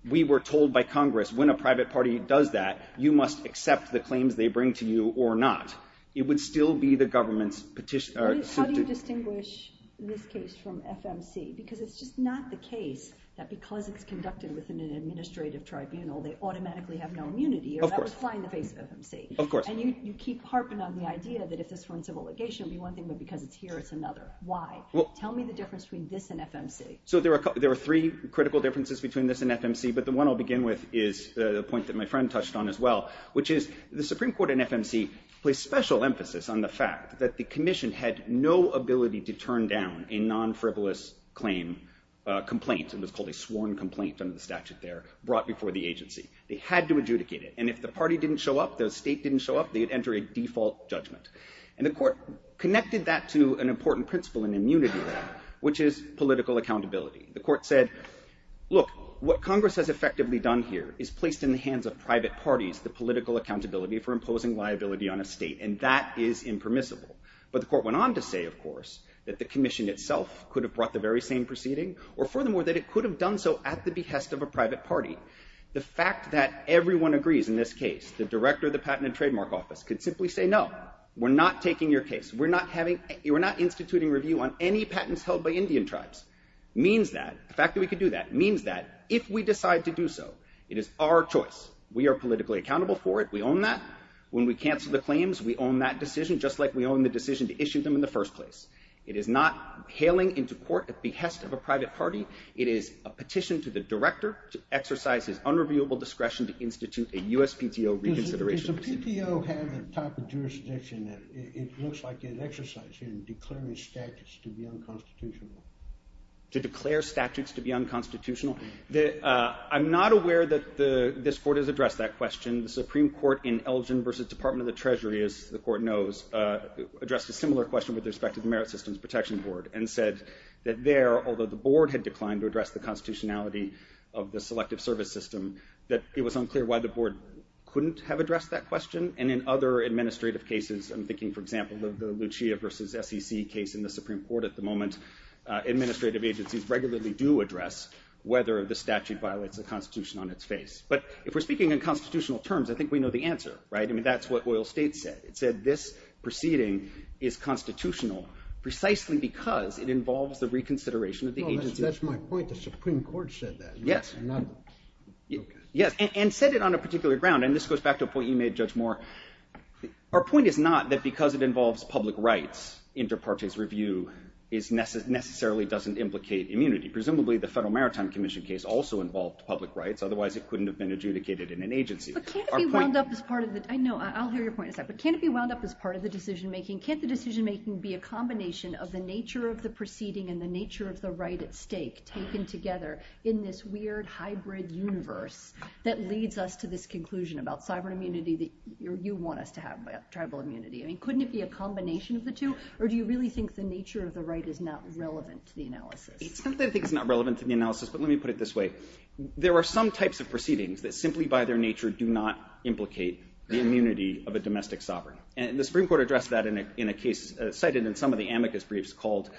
we were told by Congress when a private party does that, you must accept the claims they bring to you or not. It would still be the government's petitioner. How do you distinguish this case from FMC? Because it's just not the case that because it's conducted within an administrative tribunal, they automatically have no immunity. Of course. Or that would fly in the face of FMC. Of course. And you keep harping on the idea that if this were in civil litigation, it would be one thing, but because it's here, it's another. Why? Tell me the difference between this and FMC. So there are three critical differences between this and FMC. But the one I'll begin with is the point that my friend touched on as well, which is the Supreme Court in FMC placed special emphasis on the fact that the commission had no ability to turn down a non-frivolous claim complaint. It was called a sworn complaint under the statute there, brought before the agency. They had to adjudicate it. And if the party didn't show up, the state didn't show up, they'd enter a default judgment. And the court connected that to an important principle in immunity law, which is political accountability. The court said, look, what Congress has effectively done here is placed in the hands of private parties the political accountability for imposing liability on a state, and that is impermissible. But the court went on to say, of course, that the commission itself could have brought the very same proceeding, or furthermore, that it could have done so at the behest of a private party. The fact that everyone agrees in this case, the director of the Patent and Trademark Office, could simply say, no, we're not taking your case. We're not instituting review on any patents held by Indian tribes. The fact that we could do that means that if we decide to do so, it is our choice. We are politically accountable for it. We own that. When we cancel the claims, we own that decision, just like we own the decision to issue them in the first place. It is not hailing into court at the behest of a private party. It is a petition to the director to exercise his unreviewable discretion to institute a USPTO reconsideration. Does a PTO have the type of jurisdiction that it looks like it exercised in declaring statutes to be unconstitutional? To declare statutes to be unconstitutional? I'm not aware that this court has addressed that question. The Supreme Court in Elgin versus Department of the Treasury, as the court knows, addressed a similar question with respect to the Merit Systems Protection Board and said that there, although the board had declined to address the constitutionality of the selective service system, that it was unclear why the board couldn't have addressed that question. In other administrative cases, I'm thinking, for example, the Lucia versus SEC case in the Supreme Court at the moment, administrative agencies regularly do address whether the statute violates the constitution on its face. If we're speaking in constitutional terms, I think we know the answer. That's what oil state said. It said this proceeding is constitutional precisely because it involves the reconsideration of the agency. That's my point. The Supreme Court said that. Yes. And said it on a particular ground. And this goes back to a point you made, Judge Moore. Our point is not that because it involves public rights, inter partes review necessarily doesn't implicate immunity. Presumably, the Federal Maritime Commission case also involved public rights. Otherwise, it couldn't have been adjudicated in an agency. But can't it be wound up as part of the decision making? Can't the decision making be a combination of the nature of the proceeding and the nature of the right at stake taken together in this weird hybrid universe that leads us to this conclusion about cyber immunity that you want us to have, tribal immunity? I mean, couldn't it be a combination of the two? Or do you really think the nature of the right is not relevant to the analysis? It's not that I think it's not relevant to the analysis, but let me put it this way. There are some types of proceedings that simply by their nature do not implicate the immunity of a domestic sovereign. And the Supreme Court addressed that in a case cited in some of the amicus briefs called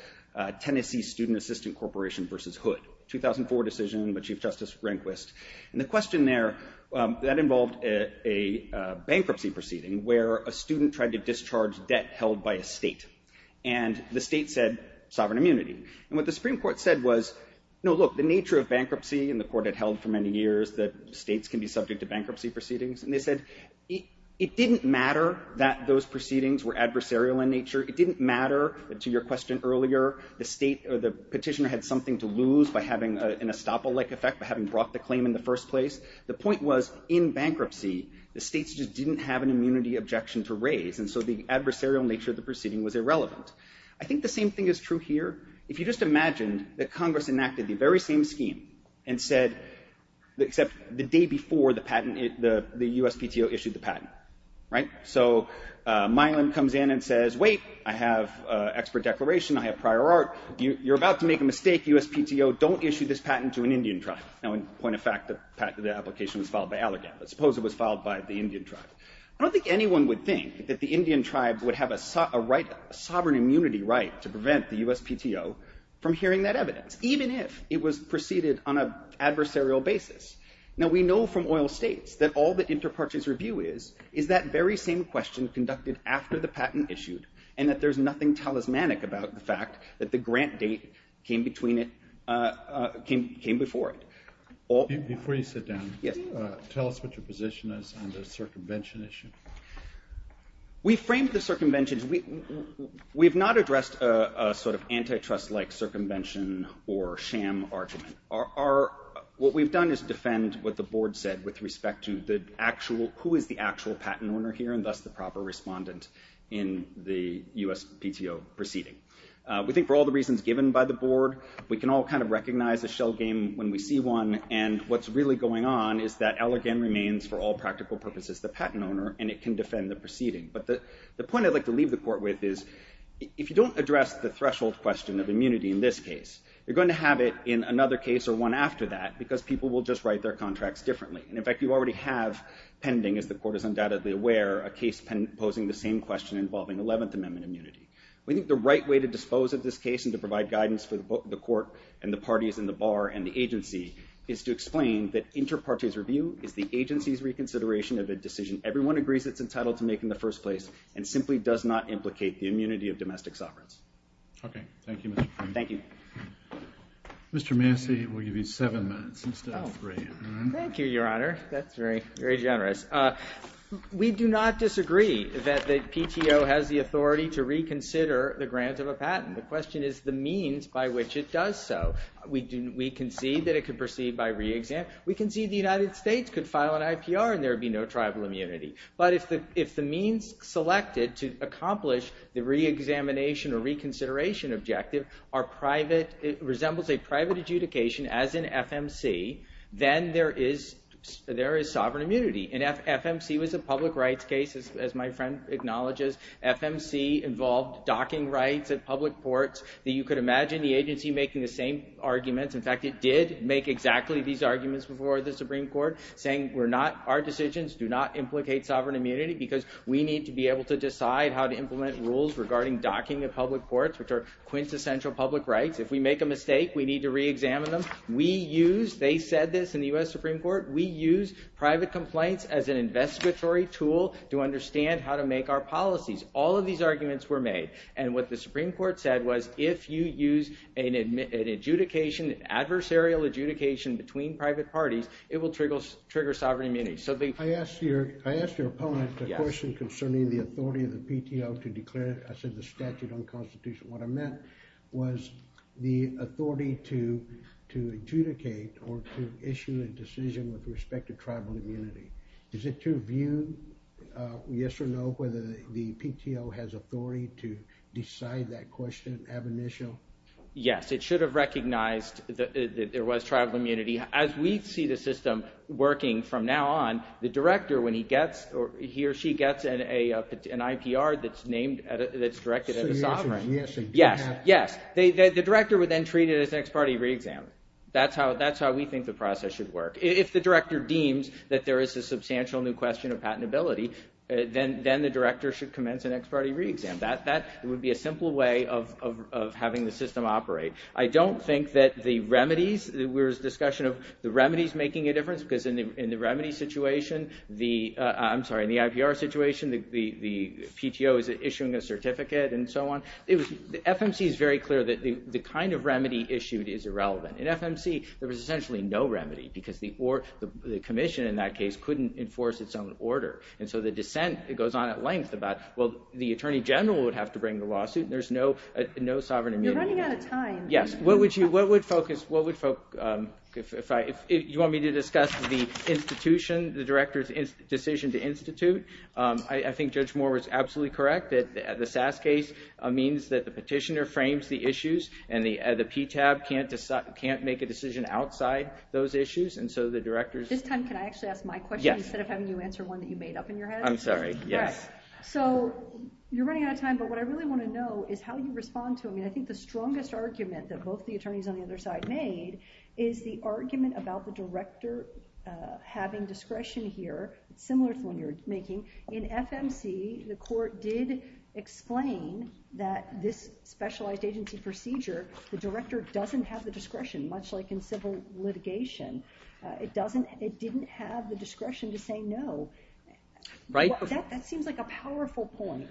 Tennessee Student Assistant Corporation versus Hood, 2004 decision by Chief Justice Rehnquist. And the question there, that involved a bankruptcy proceeding where a student tried to discharge debt held by a state. And the state said, sovereign immunity. And what the Supreme Court said was, no, look, the nature of bankruptcy, and the court had held for many years that states can be subject to bankruptcy proceedings. And they said, it didn't matter that those proceedings were adversarial in nature. It didn't matter, to your question earlier, the state or the petitioner had something to lose by having an estoppel-like effect, by having brought the claim in the first place. The point was, in bankruptcy, the states just didn't have an immunity objection to raise. And so the adversarial nature of the proceeding was irrelevant. I think the same thing is true here. If you just imagine that Congress enacted the very same scheme and said, except the day before the patent, the USPTO issued the patent, right? And so Milan comes in and says, wait, I have expert declaration. I have prior art. You're about to make a mistake, USPTO. Don't issue this patent to an Indian tribe. Now, in point of fact, the application was filed by Allergan. Let's suppose it was filed by the Indian tribe. I don't think anyone would think that the Indian tribe would have a sovereign immunity right to prevent the USPTO from hearing that evidence, even if it was preceded on an adversarial basis. Now, we know from oil states that all that interparties review is, is that very same question conducted after the patent issued, and that there's nothing talismanic about the fact that the grant date came before it. Before you sit down, tell us what your position is on the circumvention issue. We framed the circumventions. We have not addressed a sort of antitrust-like circumvention or sham argument. What we've done is defend what the board said with respect to the actual, who is the actual patent owner here, and thus the proper respondent in the USPTO proceeding. We think for all the reasons given by the board, we can all kind of recognize a shell game when we see one, and what's really going on is that Allergan remains, for all practical purposes, the patent owner, and it can defend the proceeding. But the point I'd like to leave the court with is, if you don't address the threshold question of immunity in this case, you're going to have it in another case or one after that, because people will just write their contracts differently. And, in fact, you already have pending, as the court is undoubtedly aware, a case posing the same question involving 11th Amendment immunity. We think the right way to dispose of this case and to provide guidance for the court and the parties and the bar and the agency is to explain that interparties review is the agency's reconsideration of a decision everyone agrees it's entitled to make in the first place and simply does not implicate the immunity of domestic sovereigns. Okay. Thank you, Mr. Freeman. Thank you. Mr. Massey, we'll give you seven minutes instead of three. Thank you, Your Honor. That's very generous. We do not disagree that the PTO has the authority to reconsider the grant of a patent. The question is the means by which it does so. We concede that it could proceed by reexamination. We concede the United States could file an IPR and there would be no tribal immunity. But if the means selected to accomplish the reexamination or reconsideration objective resembles a private adjudication as in FMC, then there is sovereign immunity. And FMC was a public rights case, as my friend acknowledges. FMC involved docking rights at public ports. You could imagine the agency making the same arguments. In fact, it did make exactly these arguments before the Supreme Court, saying our decisions do not implicate sovereign immunity because we need to be able to decide how to implement rules regarding docking at public ports, which are quintessential public rights. If we make a mistake, we need to reexamine them. They said this in the U.S. Supreme Court. We use private complaints as an investigatory tool to understand how to make our policies. All of these arguments were made. And what the Supreme Court said was if you use an adversarial adjudication between private parties, it will trigger sovereign immunity. I asked your opponent a question concerning the authority of the PTO to declare the statute unconstitutional. What I meant was the authority to adjudicate or to issue a decision with respect to tribal immunity. Is it your view, yes or no, whether the PTO has authority to decide that question, have an issue? Yes, it should have recognized that there was tribal immunity. As we see the system working from now on, the director, when he gets or he or she gets an IPR that's named, that's directed at a sovereign. Yes, yes. The director would then treat it as an ex parte reexam. That's how we think the process should work. If the director deems that there is a substantial new question of patentability, then the director should commence an ex parte reexam. That would be a simple way of having the system operate. I don't think that the remedies, there was discussion of the remedies making a difference because in the remedy situation, I'm sorry, in the IPR situation, the PTO is issuing a certificate and so on. The FMC is very clear that the kind of remedy issued is irrelevant. In FMC, there was essentially no remedy because the commission in that case couldn't enforce its own order. And so the dissent goes on at length about, well, the attorney general would have to bring the lawsuit. There's no sovereign immunity. You're running out of time. Yes. What would focus, if you want me to discuss the institution, the director's decision to institute, I think Judge Moore was absolutely correct that the SAS case means that the petitioner frames the issues and the PTAB can't make a decision outside those issues. This time, can I actually ask my question instead of having you answer one that you made up in your head? I'm sorry, yes. So you're running out of time, but what I really want to know is how you respond to them. I mean, I think the strongest argument that both the attorneys on the other side made is the argument about the director having discretion here, similar to the one you're making. In FMC, the court did explain that this specialized agency procedure, the director doesn't have the discretion, much like in civil litigation. It didn't have the discretion to say no. Right. That seems like a powerful point.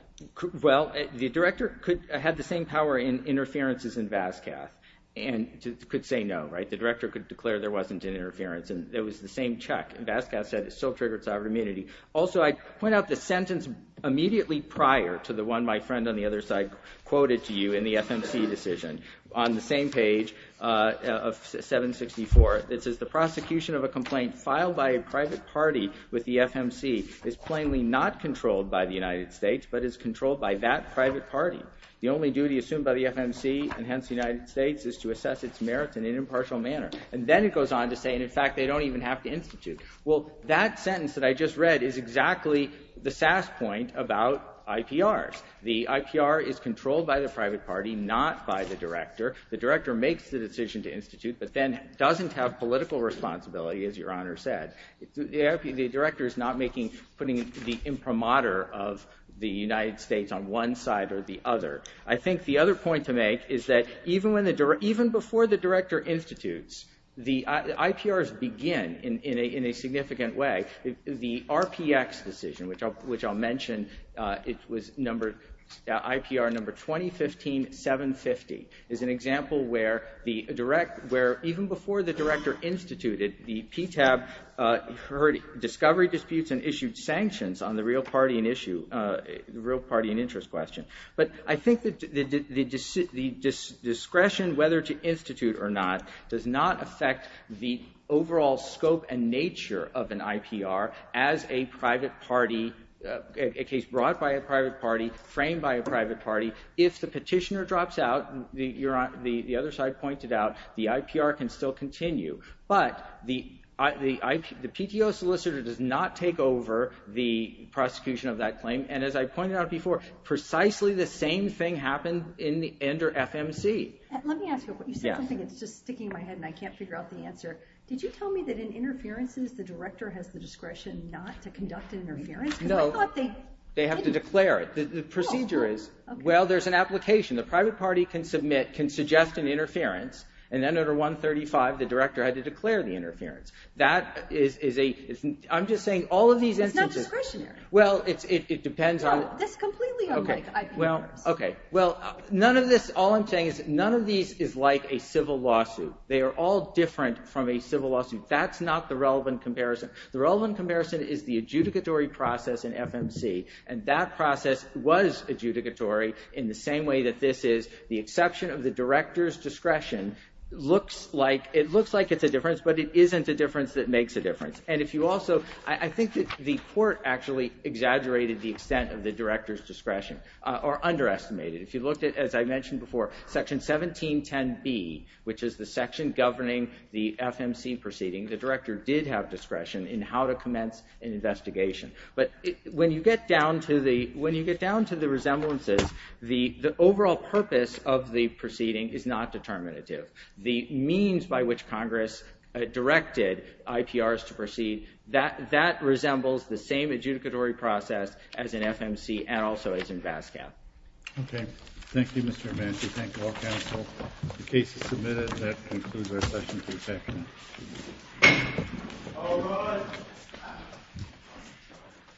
Well, the director had the same power in interferences in Vascath and could say no. The director could declare there wasn't an interference and it was the same check. Vascath said it still triggered sovereign immunity. Also, I point out the sentence immediately prior to the one my friend on the other side quoted to you in the FMC decision. On the same page of 764, it says, the prosecution of a complaint filed by a private party with the FMC is plainly not controlled by the United States, but is controlled by that private party. The only duty assumed by the FMC, and hence the United States, is to assess its merits in an impartial manner. And then it goes on to say, in fact, they don't even have to institute. Well, that sentence that I just read is exactly the SAS point about IPRs. The IPR is controlled by the private party, not by the director. The director makes the decision to institute, but then doesn't have political responsibility, as Your Honor said. The director is not putting the imprimatur of the United States on one side or the other. I think the other point to make is that even before the director institutes, the IPRs begin in a significant way. The RPX decision, which I'll mention, it was IPR number 2015-750, is an example where even before the director instituted, the PTAB heard discovery disputes and issued sanctions on the real party in interest question. But I think the discretion whether to institute or not does not affect the overall scope and nature of an IPR as a private party, a case brought by a private party, framed by a private party. If the petitioner drops out, the other side pointed out, the IPR can still continue. But the PTO solicitor does not take over the prosecution of that claim. And as I pointed out before, precisely the same thing happened under FMC. Let me ask you, you said something that's just sticking in my head and I can't figure out the answer. Did you tell me that in interferences, the director has the discretion not to conduct an interference? No, they have to declare it. The procedure is, well, there's an application. The private party can submit, can suggest an interference. And then under 135, the director had to declare the interference. That is a, I'm just saying all of these instances. It's not discretionary. Well, it depends on. That's completely unlike IPRs. Okay. Well, none of this, all I'm saying is none of these is like a civil lawsuit. They are all different from a civil lawsuit. That's not the relevant comparison. The relevant comparison is the adjudicatory process in FMC. And that process was adjudicatory in the same way that this is. The exception of the director's discretion looks like, it looks like it's a difference, but it isn't a difference that makes a difference. And if you also, I think that the court actually exaggerated the extent of the director's discretion or underestimated. If you looked at, as I mentioned before, Section 1710B, which is the section governing the FMC proceeding, the director did have discretion in how to commence an investigation. But when you get down to the, when you get down to the resemblances, the overall purpose of the proceeding is not determinative. The means by which Congress directed IPRs to proceed, that resembles the same adjudicatory process as in FMC and also as in BASCAP. Okay. Thank you, Mr. Amanci. Thank you, all counsel. The case is submitted. That concludes our session today. All rise.